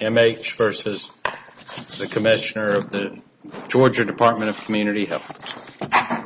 M.H. v. Commissioner, Georgia Dept. of Community Health prison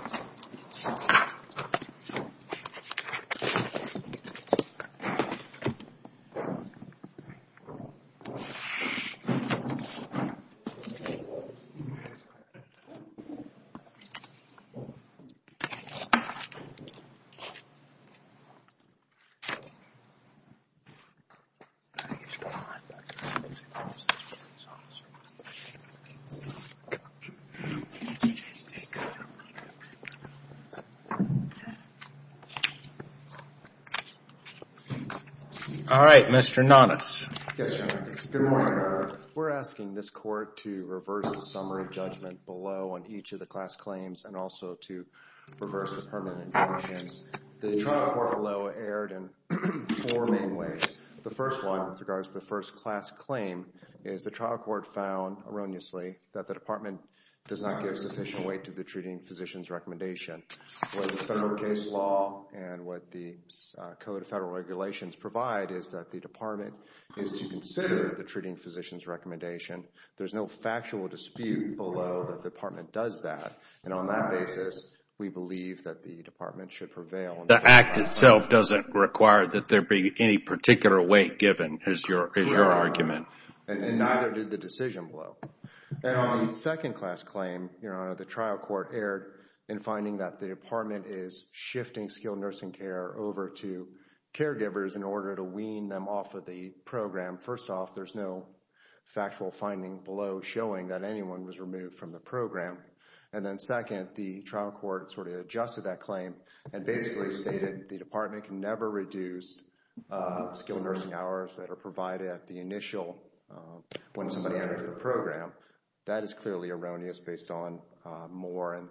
Alright Mr. Nonnes. Yes, Your Honor. Good morning Your Honor. We're asking this court to reverse the summary judgment below on each of the class claims and also to reverse the terminate. The trial court below erred in 4 main ways. the first one regards the first class claim is the trial court found erroneously that the department does not give sufficient weight to the treating physician's recommendation. What the federal case law and what the code of federal regulations provide is that the department is to consider the treating physician's recommendation. There's no factual dispute below that the department does that. And on that basis we believe that the department should prevail. The act itself doesn't require that there be any particular weight given is your argument. And neither did the decision below. And on the second class claim, Your Honor, the trial court erred in finding that the department is shifting skilled nursing care over to caregivers in order to wean them off of the program. First off, there's no factual finding below showing that anyone was removed from the program. And then second, the trial court sort of adjusted that claim and basically stated the department can never reduce skilled nursing hours that are provided at the initial level. When somebody enters the program, that is clearly erroneous based on Moore and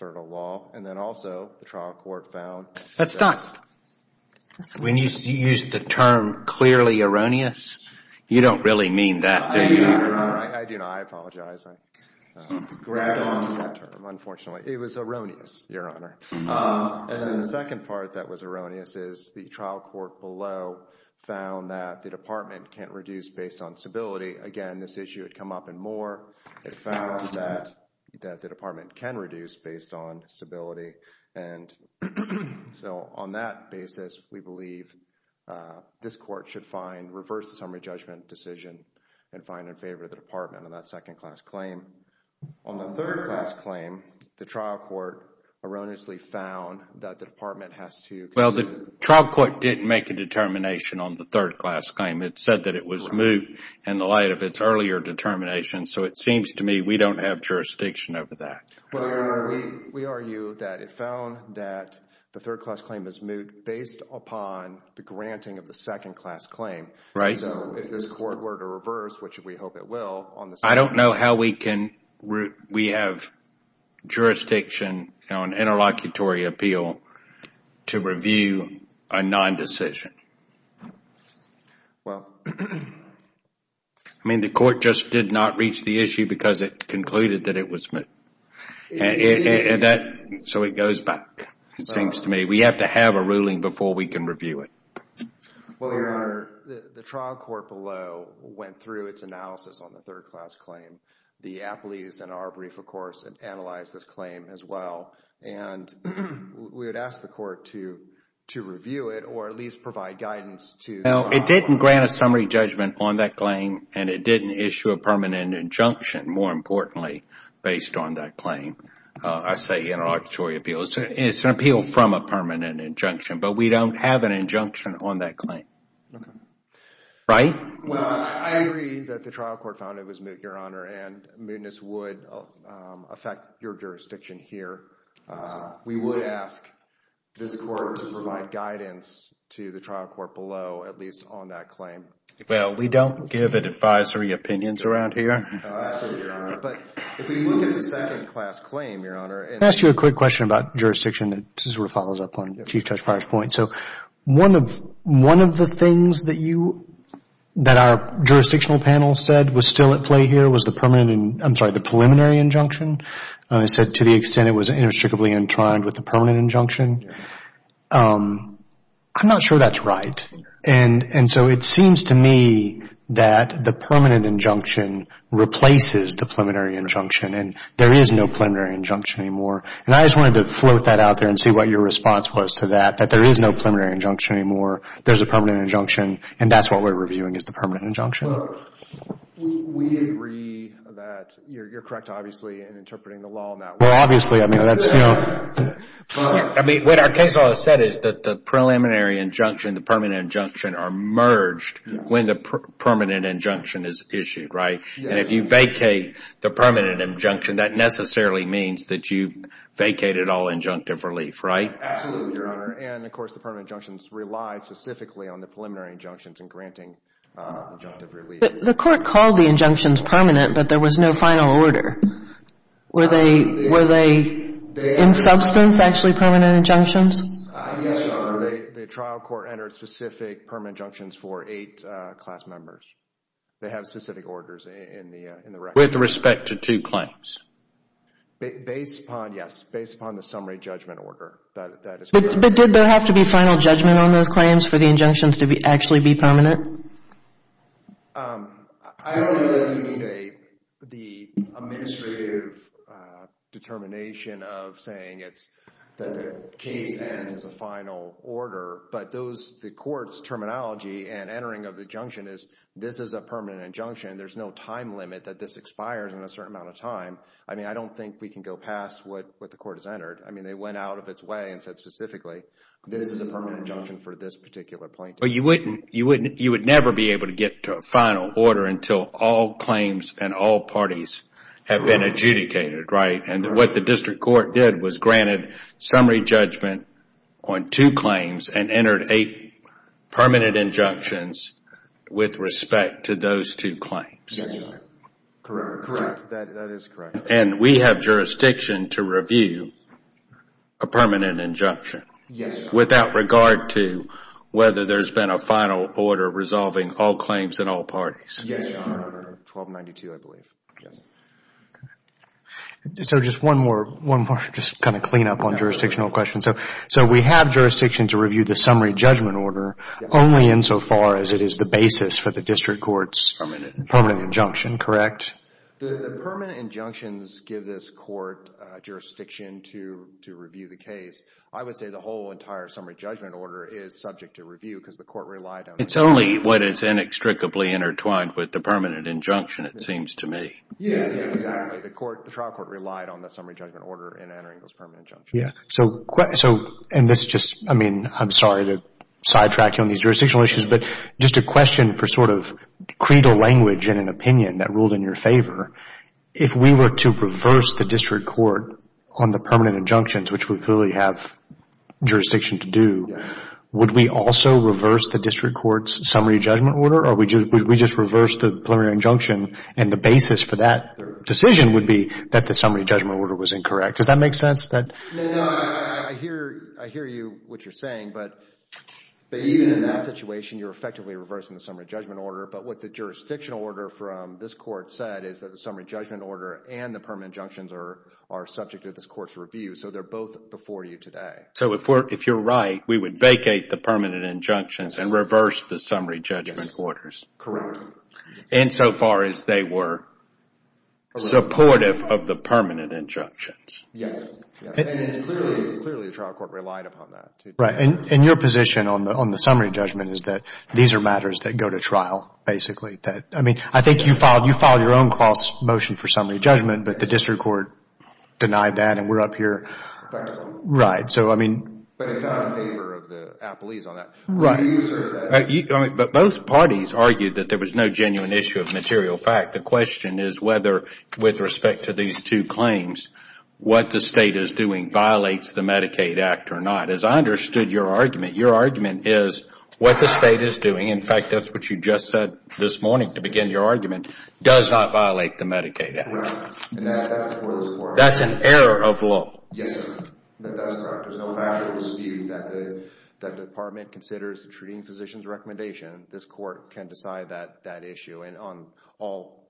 federal law. And then also the trial court found. That's not. When you use the term clearly erroneous, you don't really mean that. I do not. I apologize. I grabbed on to that term, unfortunately. It was erroneous, Your Honor. And the second part that was erroneous is the trial court below found that the department can't reduce based on stability. Again, this issue had come up in Moore. It found that the department can reduce based on stability. And so on that basis, we believe this court should reverse the summary judgment decision and find in favor of the department on that second class claim. On the third class claim, the trial court erroneously found that the department has to. Well, the trial court didn't make a determination on the third class claim. It said that it was moved in the light of its earlier determination. So it seems to me we don't have jurisdiction over that. We argue that it found that the third class claim is based upon the granting of the second class claim. Right. So if this court were to reverse, which we hope it will. I don't know how we can. We have jurisdiction on interlocutory appeal to review a non-decision. I mean, the court just did not reach the issue because it concluded that it was. So it goes back. It seems to me we have to have a ruling before we can review it. Well, the trial court below went through its analysis on the third class claim. The appellees in our brief, of course, analyzed this claim as well. And we would ask the court to review it or at least provide guidance to. Well, it didn't grant a summary judgment on that claim, and it didn't issue a permanent injunction, more importantly, based on that claim. I say interlocutory appeal. It's an appeal from a permanent injunction, but we don't have an injunction on that claim. Right. Well, I agree that the trial court found it was moot, Your Honor, and mootness would affect your jurisdiction here. We would ask this court to provide guidance to the trial court below, at least on that claim. Well, we don't give advisory opinions around here. Absolutely, Your Honor. But if we look at the second class claim, Your Honor. Let me ask you a quick question about jurisdiction that sort of follows up on Chief Judge Pryor's point. So one of the things that our jurisdictional panel said was still at play here was the preliminary injunction. It said to the extent it was inextricably entwined with the permanent injunction. I'm not sure that's right. And so it seems to me that the permanent injunction replaces the preliminary injunction, and there is no preliminary injunction anymore. And I just wanted to float that out there and see what your response was to that, that there is no preliminary injunction anymore. There's a permanent injunction, and that's what we're reviewing is the permanent injunction. Well, we agree that you're correct, obviously, in interpreting the law in that way. Well, obviously, I mean, that's, you know. I mean, what our case law has said is that the preliminary injunction and the permanent injunction are merged when the permanent injunction is issued, right? And if you vacate the permanent injunction, that necessarily means that you vacated all injunctive relief, right? Absolutely, Your Honor. And, of course, the permanent injunctions rely specifically on the preliminary injunctions in granting injunctive relief. The court called the injunctions permanent, but there was no final order. Were they in substance, actually, permanent injunctions? Yes, Your Honor. The trial court entered specific permanent injunctions for eight class members. They have specific orders in the record. With respect to two claims? Based upon, yes, based upon the summary judgment order, that is correct. But did there have to be final judgment on those claims for the injunctions to actually be permanent? I don't know that you need the administrative determination of saying that the case ends in the final order, but the court's terminology and entering of the injunction is this is a permanent injunction. There's no time limit that this expires in a certain amount of time. I mean, I don't think we can go past what the court has entered. I mean, they went out of its way and said specifically this is a permanent injunction for this particular plaintiff. But you would never be able to get to a final order until all claims and all parties have been adjudicated, right? And what the district court did was granted summary judgment on two claims and entered eight permanent injunctions with respect to those two claims. Correct. That is correct. And we have jurisdiction to review a permanent injunction. Yes, Your Honor. Without regard to whether there's been a final order resolving all claims and all parties. Yes, Your Honor. 1292, I believe. Yes. So just one more, just kind of clean up on jurisdictional questions. So we have jurisdiction to review the summary judgment order only insofar as it is the basis for the district court's permanent injunction, correct? The permanent injunctions give this court jurisdiction to review the case. I would say the whole entire summary judgment order is subject to review because the court relied on it. It's only what is inextricably intertwined with the permanent injunction, it seems to me. Yes, exactly. The trial court relied on the summary judgment order in entering those permanent injunctions. Yes. And this is just, I mean, I'm sorry to sidetrack you on these jurisdictional issues, but just a question for sort of credo language in an opinion that ruled in your favor. If we were to reverse the district court on the permanent injunctions, which we clearly have jurisdiction to do, would we also reverse the district court's summary judgment order or would we just reverse the preliminary injunction and the basis for that decision would be that the summary judgment order was incorrect? Does that make sense? No, no. I hear you, what you're saying, but even in that situation, you're effectively reversing the summary judgment order. But what the jurisdictional order from this Court said is that the summary judgment order and the permanent injunctions are subject to this Court's review, so they're both before you today. Okay. So if you're right, we would vacate the permanent injunctions and reverse the summary judgment orders. Correct. Insofar as they were supportive of the permanent injunctions. Yes. And clearly the trial court relied upon that. Right. And your position on the summary judgment is that these are matters that go to trial, basically. I mean, I think you filed your own cross motion for summary judgment, but the district court denied that and we're up here. Right. But it's not in favor of the appellees on that. Right. But both parties argued that there was no genuine issue of material fact. The question is whether with respect to these two claims, what the State is doing violates the Medicaid Act or not. As I understood your argument, your argument is what the State is doing, in fact, that's what you just said this morning to begin your argument, does not violate the Medicaid Act. Right. And that's before this Court. That's an error of law. Yes, sir. That's correct. There's no factual dispute that the Department considers the treating physician's recommendation. This Court can decide that issue. And on all,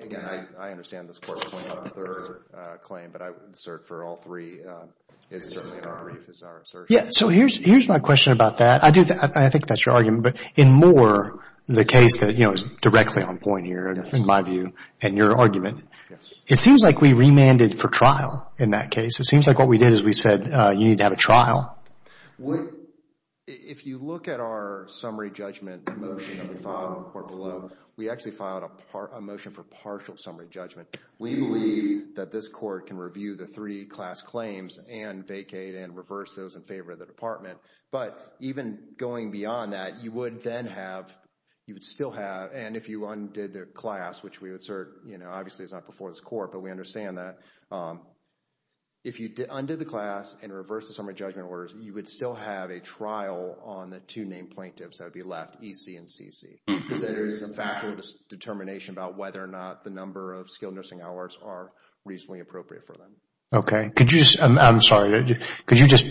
again, I understand this Court pointed out the third claim, but I would assert for all three, it's certainly in our brief, it's our assertion. Yes. So here's my question about that. I think that's your argument, but in Moore, the case that, you know, is directly on point here, in my view, and your argument. Yes. It seems like we remanded for trial in that case. It seems like what we did is we said you need to have a trial. If you look at our summary judgment motion that we filed in the court below, we actually filed a motion for partial summary judgment. We believe that this Court can review the three class claims and vacate and reverse those in favor of the Department. But even going beyond that, you would then have, you would still have, and if you undid the class, which we would assert, you know, obviously it's not before this Court, but we understand that, if you undid the class and reversed the summary judgment orders, you would still have a trial on the two named plaintiffs that would be left, E.C. and C.C. Because there is a factual determination about whether or not the number of skilled nursing hours are reasonably appropriate for them. Okay. Could you just, I'm sorry, could you just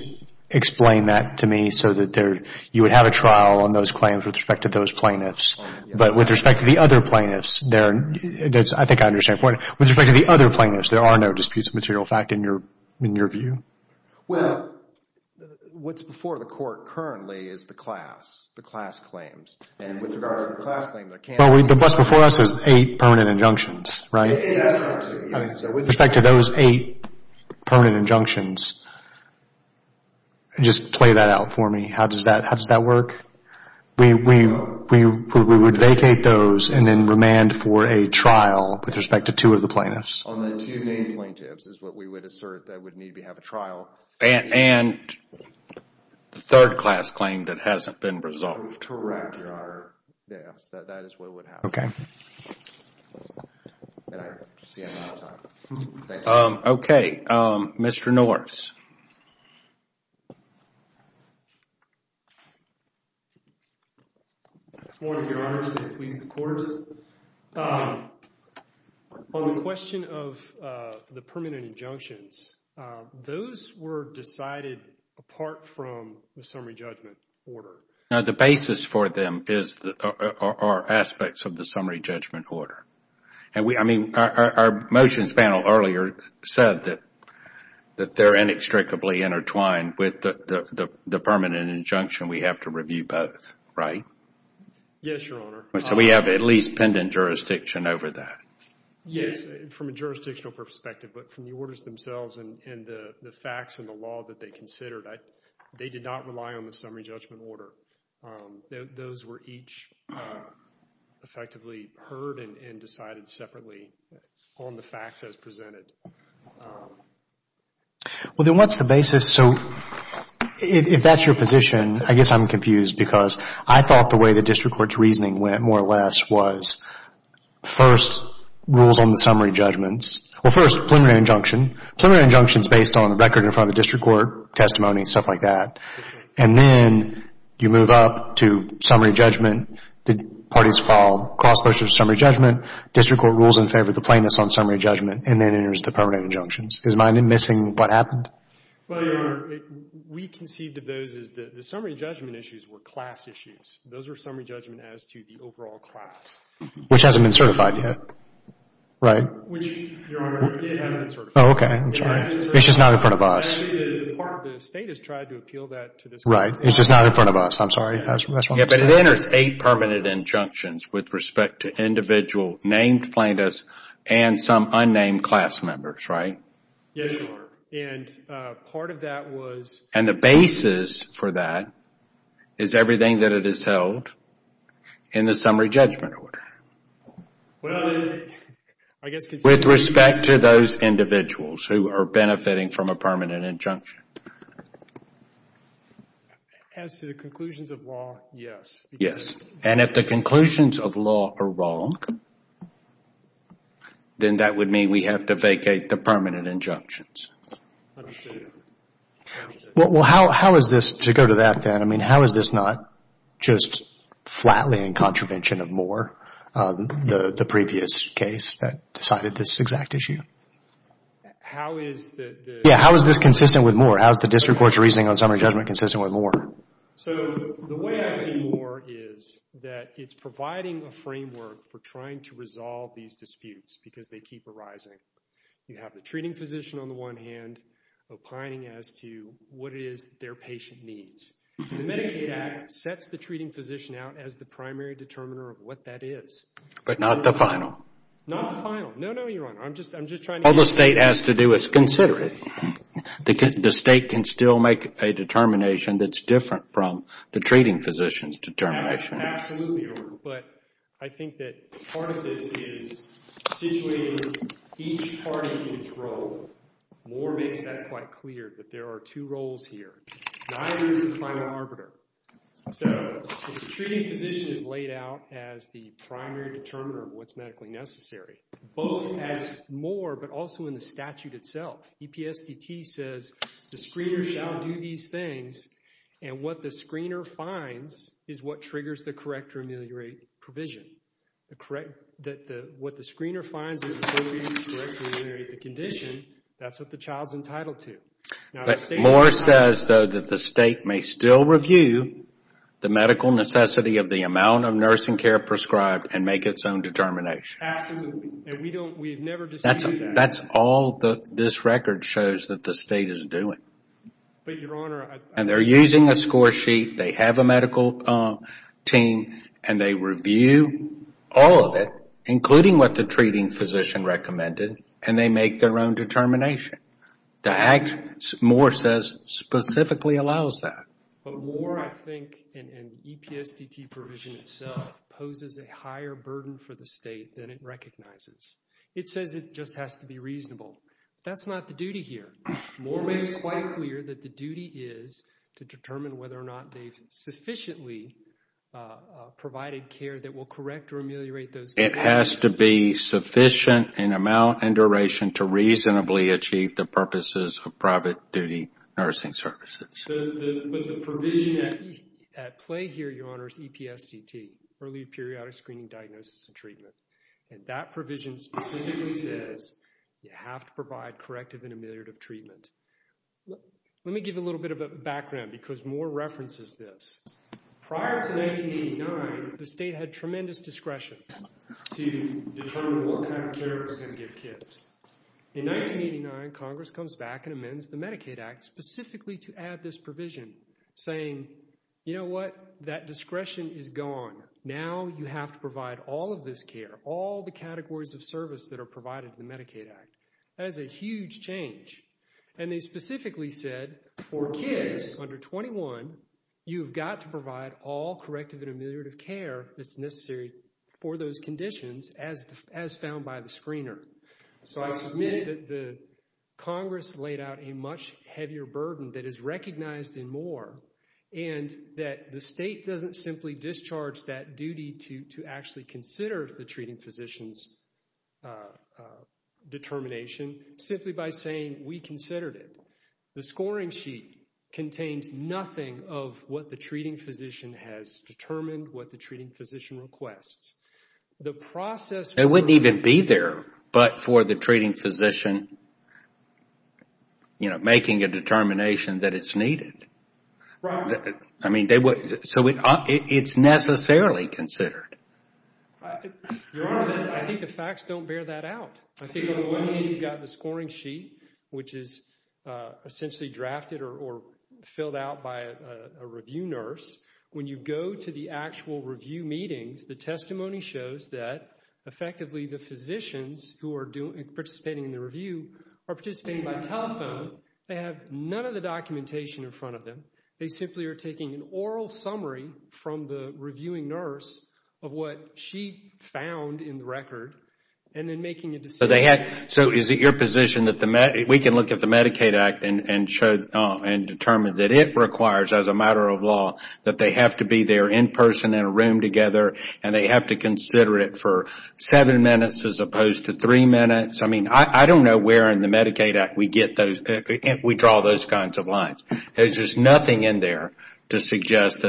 explain that to me so that you would have a trial on those claims with respect to those plaintiffs? But with respect to the other plaintiffs, I think I understand your point. With respect to the other plaintiffs, there are no disputes of material fact in your view? Well, what's before the Court currently is the class, the class claims. And with regards to the class claims, there can't be. Well, what's before us is eight permanent injunctions, right? It has to be two. With respect to those eight permanent injunctions, just play that out for me. How does that work? We would vacate those and then remand for a trial with respect to two of the plaintiffs. On the two named plaintiffs is what we would assert that would need to have a trial. And the third class claim that hasn't been resolved. Correct, Your Honor. Yes, that is what would happen. Okay, Mr. Norse. Good morning, Your Honor. To the police and court. On the question of the permanent injunctions, those were decided apart from the summary judgment order? No, the basis for them are aspects of the summary judgment order. I mean, our motions panel earlier said that they're inextricably intertwined with the permanent injunction and we have to review both, right? Yes, Your Honor. So we have at least pendant jurisdiction over that? Yes, from a jurisdictional perspective. But from the orders themselves and the facts and the law that they considered, they did not rely on the summary judgment order. Those were each effectively heard and decided separately on the facts as presented. Well, then what's the basis? So if that's your position, I guess I'm confused because I thought the way the district court's reasoning went, more or less, was first, rules on the summary judgments. Well, first, preliminary injunction. Preliminary injunction is based on the record in front of the district court, testimony, stuff like that. And then you move up to summary judgment. The parties follow. Cross-pursuit of summary judgment, district court rules in favor of the plaintiffs on summary judgment, and then there's the permanent injunctions. Is my missing what happened? Well, Your Honor, we conceived of those as the summary judgment issues were class issues. Those were summary judgment as to the overall class. Which hasn't been certified yet, right? Which, Your Honor, it hasn't been certified. Oh, okay. It's just not in front of us. Part of the state has tried to appeal that to this court. Right. It's just not in front of us. I'm sorry. But it enters eight permanent injunctions with respect to individual named plaintiffs and some unnamed class members, right? Yes, Your Honor. And part of that was... And the basis for that is everything that it has held in the summary judgment order. Well, I guess... With respect to those individuals who are benefiting from a permanent injunction. As to the conclusions of law, yes. Yes. And if the conclusions of law are wrong, then that would mean we have to vacate the permanent injunctions. Well, how is this... To go to that then, I mean, how is this not just flatly in contravention of Moore, the previous case that decided this exact issue? How is the... Yeah, how is this consistent with Moore? How is the district court's reasoning on summary judgment consistent with Moore? So the way I see Moore is that it's providing a framework for trying to resolve these disputes because they keep arising. You have the treating physician on the one hand opining as to what it is that their patient needs. The Medicaid Act sets the treating physician out as the primary determiner of what that is. But not the final. Not the final. No, no, Your Honor. I'm just trying to... All the state has to do is consider it. The state can still make a determination that's different from the treating physician's determination. Absolutely, Your Honor. But I think that part of this is situating each party in its role. Moore makes that quite clear that there are two roles here. Neither is the final arbiter. So if the treating physician is laid out as the primary determiner of what's medically necessary, both as Moore but also in the statute itself. EPSDT says the screener shall do these things and what the screener finds is what triggers the correct or ameliorate provision. What the screener finds is the ability to correct or ameliorate the condition. That's what the child's entitled to. Moore says, though, that the state may still review the medical necessity of the amount of nursing care prescribed and make its own determination. Absolutely. And we've never disputed that. That's all this record shows that the state is doing. But, Your Honor... And they're using a score sheet, they have a medical team, and they review all of it, including what the treating physician recommended, and they make their own determination. The act, Moore says, specifically allows that. But Moore, I think, and EPSDT provision itself, poses a higher burden for the state than it recognizes. It says it just has to be reasonable. That's not the duty here. Moore makes it quite clear that the duty is to determine whether or not they've sufficiently provided care that will correct or ameliorate those conditions. It has to be sufficient in amount and duration to reasonably achieve the purposes of private duty nursing services. But the provision at play here, Your Honor, is EPSDT, early periodic screening diagnosis and treatment. And that provision specifically says you have to provide corrective and ameliorative treatment. Let me give a little bit of a background because Moore references this. Prior to 1989, the state had tremendous discretion to determine what kind of care it was going to give kids. In 1989, Congress comes back and amends the Medicaid Act specifically to add this provision, saying, you know what, that discretion is gone. Now you have to provide all of this care, all the categories of service that are provided in the Medicaid Act. That is a huge change. And they specifically said for kids under 21, you've got to provide all corrective and ameliorative care that's necessary for those conditions as found by the screener. So I submitted that Congress laid out a much heavier burden that is recognized in Moore, and that the state doesn't simply discharge that duty to actually consider the treating physician's determination, simply by saying we considered it. The scoring sheet contains nothing of what the treating physician has determined, what the treating physician requests. It wouldn't even be there, but for the treating physician, you know, making a determination that it's needed. Right. I mean, so it's necessarily considered. Your Honor, I think the facts don't bear that out. I think on the one hand, you've got the scoring sheet, which is essentially drafted or filled out by a review nurse. When you go to the actual review meetings, the testimony shows that effectively the physicians who are participating in the review are participating by telephone. They have none of the documentation in front of them. They simply are taking an oral summary from the reviewing nurse of what she found in the record and then making a decision. So is it your position that we can look at the Medicaid Act and determine that it requires, as a matter of law, that they have to be there in person in a room together and they have to consider it for seven minutes as opposed to three minutes? I mean, I don't know where in the Medicaid Act we draw those kinds of lines. There's just nothing in there to suggest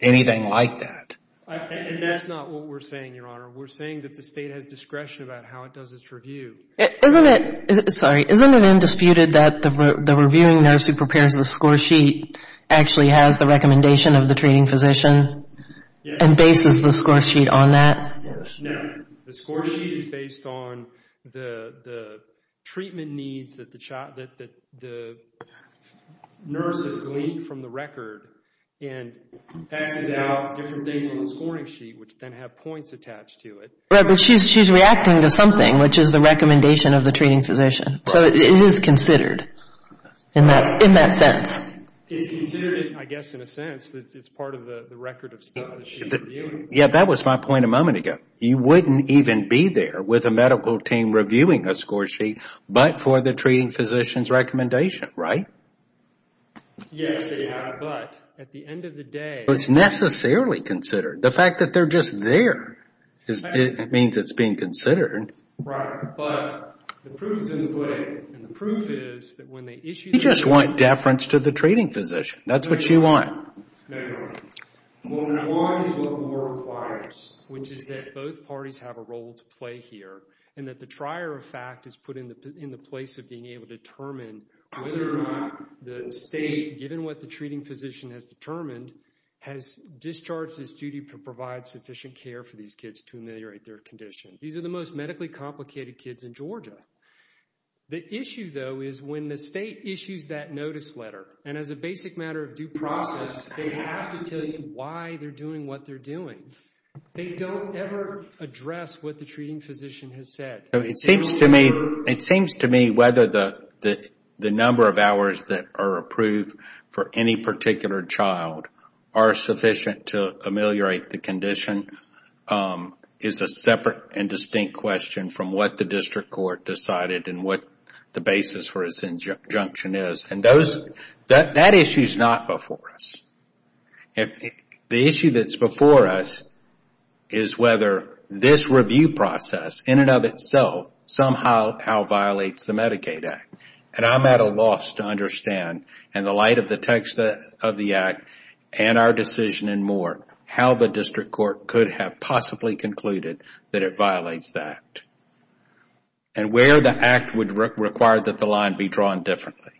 anything like that. And that's not what we're saying, Your Honor. We're saying that the State has discretion about how it does its review. Isn't it, sorry, isn't it undisputed that the reviewing nurse who prepares the score sheet actually has the recommendation of the treating physician and bases the score sheet on that? No. The score sheet is based on the treatment needs that the nurse has gleaned from the record and passes out different things on the scoring sheet which then have points attached to it. Right, but she's reacting to something, which is the recommendation of the treating physician. So it is considered in that sense. It's considered, I guess, in a sense, it's part of the record of stuff that she's reviewing. Yeah, that was my point a moment ago. You wouldn't even be there with a medical team reviewing a score sheet but for the treating physician's recommendation, right? Yes, Your Honor, but at the end of the day... It's necessarily considered. The fact that they're just there means it's being considered. Right, but the proof is in the pudding. The proof is that when they issue... You just want deference to the treating physician. That's what you want. No, Your Honor. What we want is what Moore requires. Which is that both parties have a role to play here and that the trier of fact is put in the place of being able to determine whether or not the state, given what the treating physician has determined, has discharged its duty to provide sufficient care for these kids to ameliorate their condition. These are the most medically complicated kids in Georgia. The issue, though, is when the state issues that notice letter and as a basic matter of due process, they have to tell you why they're doing what they're doing. They don't ever address what the treating physician has said. It seems to me whether the number of hours that are approved for any particular child are sufficient to ameliorate the condition is a separate and distinct question from what the district court decided and what the basis for its injunction is. That issue is not before us. The issue that's before us is whether this review process, in and of itself, somehow violates the Medicaid Act. I'm at a loss to understand, in the light of the text of the Act and our decision and more, how the district court could have possibly concluded that it violates the Act and where the Act would require that the line be drawn differently.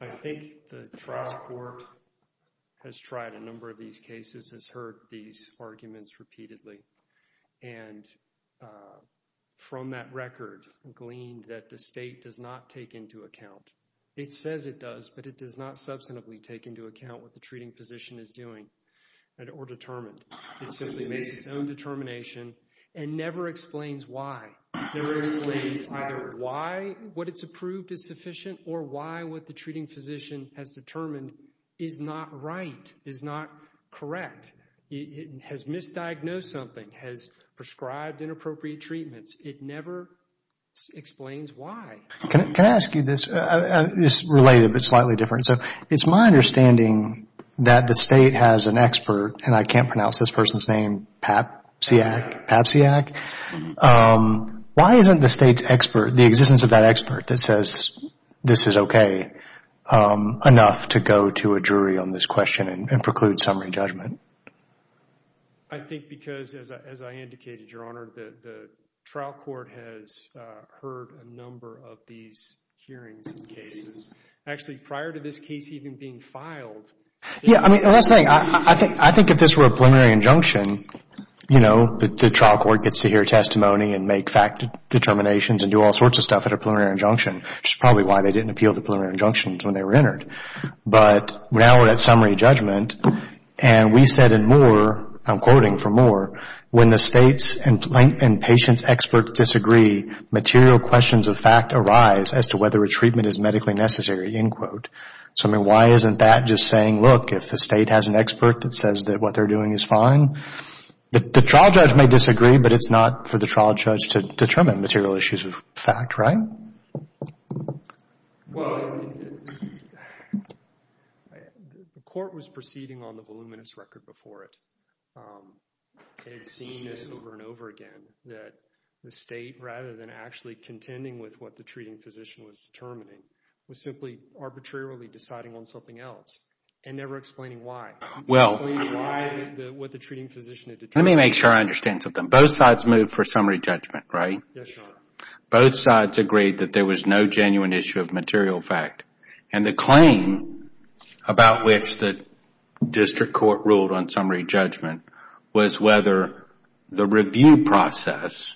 I think the trial court has tried a number of these cases, has heard these arguments repeatedly, and from that record gleaned that the state does not take into account. It says it does, but it does not substantively take into account what the treating physician is doing or determined. It simply makes its own determination and never explains why. It explains either why what it's approved is sufficient or why what the treating physician has determined is not right, is not correct, has misdiagnosed something, has prescribed inappropriate treatments. It never explains why. Can I ask you this? It's related but slightly different. It's my understanding that the state has an expert, and I can't pronounce this person's name, Papsiak. Why isn't the state's expert, the existence of that expert, that says this is okay enough to go to a jury on this question and preclude summary judgment? I think because, as I indicated, Your Honor, the trial court has heard a number of these hearings and cases. Actually, prior to this case even being filed. The last thing, I think if this were a preliminary injunction, the trial court gets to hear testimony and make fact determinations and do all sorts of stuff at a preliminary injunction, which is probably why they didn't appeal the preliminary injunctions when they were entered. But now we're at summary judgment, and we said in Moore, I'm quoting from Moore, when the state's and patient's expert disagree, material questions of fact arise as to whether a treatment is medically necessary. So, I mean, why isn't that just saying, look, if the state has an expert that says that what they're doing is fine, the trial judge may disagree, but it's not for the trial judge to determine material issues of fact, right? Well, the court was proceeding on the voluminous record before it. It had seen this over and over again, that the state, rather than actually contending with what the treating physician was determining, was simply arbitrarily deciding on something else and never explaining why. Explain what the treating physician had determined. Let me make sure I understand something. Both sides moved for summary judgment, right? Yes, Your Honor. Both sides agreed that there was no genuine issue of material fact, and the claim about which the district court ruled on summary judgment was whether the review process,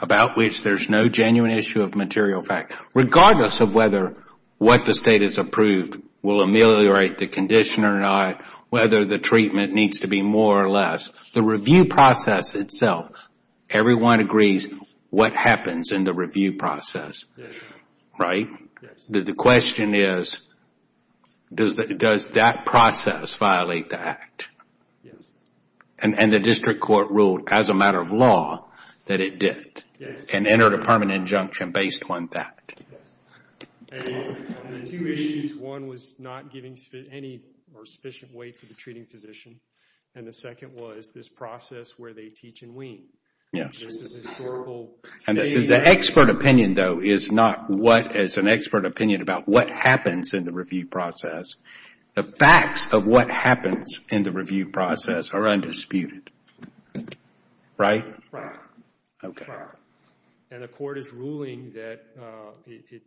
about which there's no genuine issue of material fact, regardless of whether what the state has approved will ameliorate the condition or not, whether the treatment needs to be more or less, the review process itself, everyone agrees what happens in the review process, right? Yes. The question is, does that process violate the act? Yes. And the district court ruled, as a matter of law, that it did. Yes. And entered a permanent injunction based on that. Yes. There were two issues. One was not giving any sufficient weight to the treating physician, and the second was this process where they teach and wean. And the expert opinion, though, is not what is an expert opinion about what happens in the review process. The facts of what happens in the review process are undisputed, right? Right. Okay. Right. And the court is ruling that it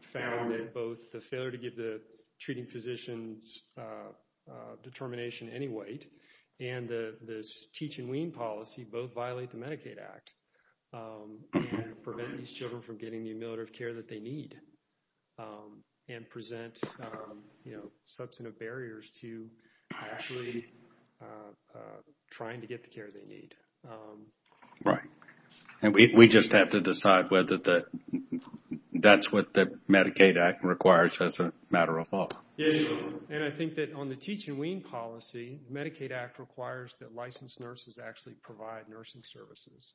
found that both the failure to give the treating physician's determination any weight and this teach and wean policy both violate the Medicaid Act and prevent these children from getting the ameliorative care that they need and present, you know, substantive barriers to actually trying to get the care they need. Right. And we just have to decide whether that's what the Medicaid Act requires or whether that's a matter of law. And I think that on the teach and wean policy, the Medicaid Act requires that licensed nurses actually provide nursing services.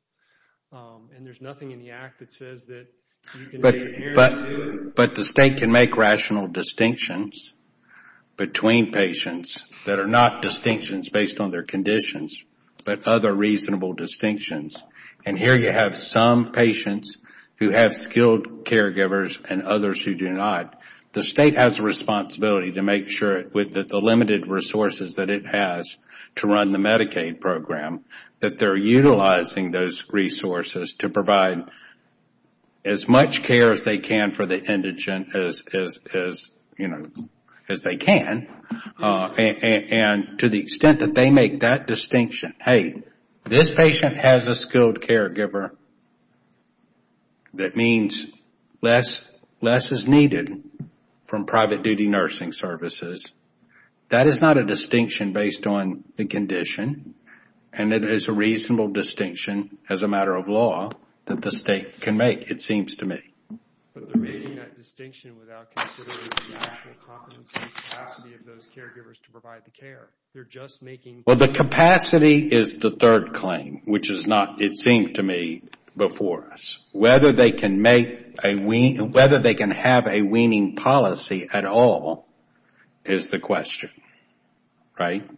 And there's nothing in the Act that says that you can take care of two. But the state can make rational distinctions between patients that are not distinctions based on their conditions but other reasonable distinctions. And here you have some patients who have skilled caregivers and others who do not. The state has a responsibility to make sure that the limited resources that it has to run the Medicaid program, that they're utilizing those resources to provide as much care as they can for the indigent as they can. And to the extent that they make that distinction, hey, this patient has a skilled caregiver that means less is needed from private duty nursing services. That is not a distinction based on the condition and it is a reasonable distinction as a matter of law that the state can make, it seems to me. But they're making that distinction without considering the actual competency and capacity of those caregivers to provide the care. They're just making... Well, the capacity is the third claim, which is not, it seems to me, before us. Whether they can have a weaning policy at all is the question. Right?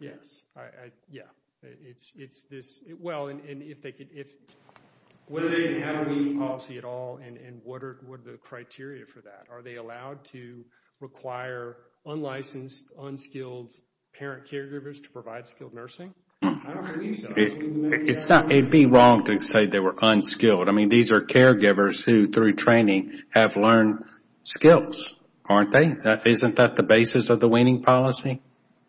Yes. Yeah. It's this... Well, and if they can... Whether they can have a weaning policy at all and what are the criteria for that? Are they allowed to require unlicensed, unskilled parent caregivers to provide skilled nursing? I don't believe so. It'd be wrong to say they were unskilled. I mean, these are caregivers who, through training, have learned skills, aren't they? Isn't that the basis of the weaning policy?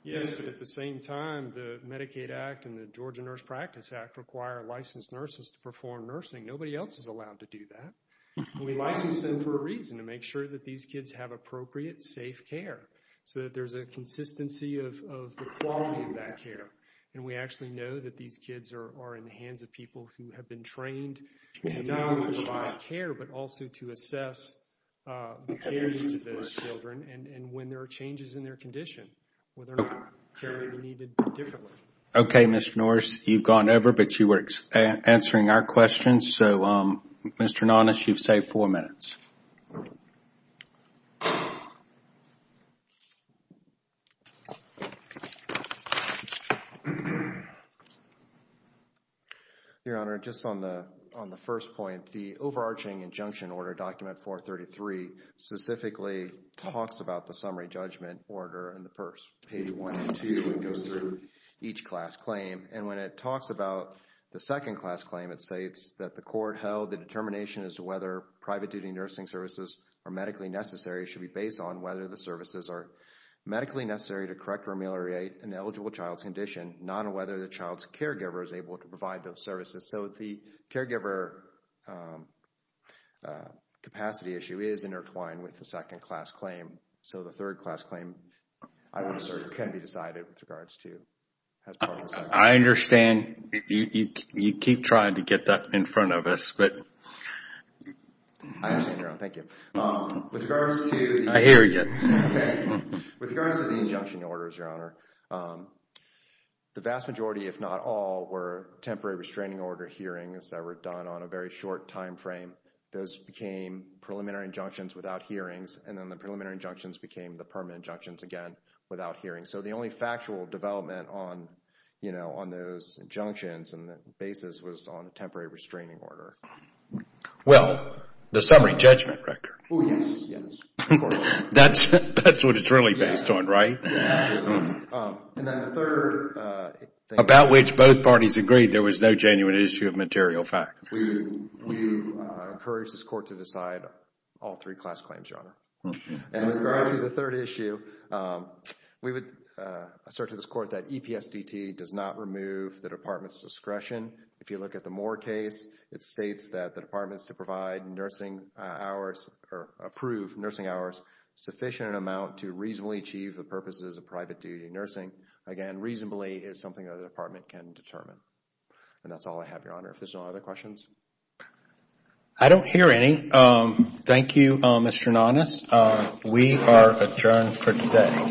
Yes, but at the same time, the Medicaid Act and the Georgia Nurse Practice Act require licensed nurses to perform nursing. Nobody else is allowed to do that. We license them for a reason, to make sure that these kids have appropriate, safe care so that there's a consistency of the quality of that care. And we actually know that these kids are in the hands of people who have been trained to not only provide care but also to assess the care needs of those children and when there are changes in their condition, whether or not care may be needed differently. Okay, Mr. Norris, you've gone over, but you were answering our questions. So, Mr. Nonnis, you've saved four minutes. Your Honor, just on the first point, the overarching injunction order, Document 433, specifically talks about the summary judgment order in the PERS. Page 1 and 2, it goes through each class claim. And when it talks about the second class claim, it states that the court held the determination as to whether private duty nursing services are medically necessary should be based on whether the services are medically necessary to correct or ameliorate an eligible child's condition, not on whether the child's caregiver is able to provide those services. So the caregiver capacity issue is intertwined with the second class claim. So the third class claim, I would assert, can be decided with regards to. I understand. You keep trying to get that in front of us, but. I understand, Your Honor. Thank you. With regards to the. I hear you. With regards to the injunction orders, Your Honor, the vast majority, if not all, were temporary restraining order hearings that were done on a very short time frame. Those became preliminary injunctions without hearings, and then the preliminary injunctions became the permanent injunctions again without hearings. So the only factual development on those injunctions and the basis was on a temporary restraining order. Well, the summary judgment record. Oh, yes, yes, of course. That's what it's really based on, right? Yes, absolutely. And then the third thing. About which both parties agreed there was no genuine issue of material fact. We encourage this court to decide all three class claims, Your Honor. And with regards to the third issue, we would assert to this court that EPSDT does not remove the department's discretion. If you look at the Moore case, it states that the department is to provide nursing hours or approve nursing hours sufficient amount to reasonably achieve the purposes of private duty nursing. Again, reasonably is something the department can determine. And that's all I have, Your Honor. If there's no other questions. I don't hear any. Thank you, Mr. Nanas. We are adjourned for today.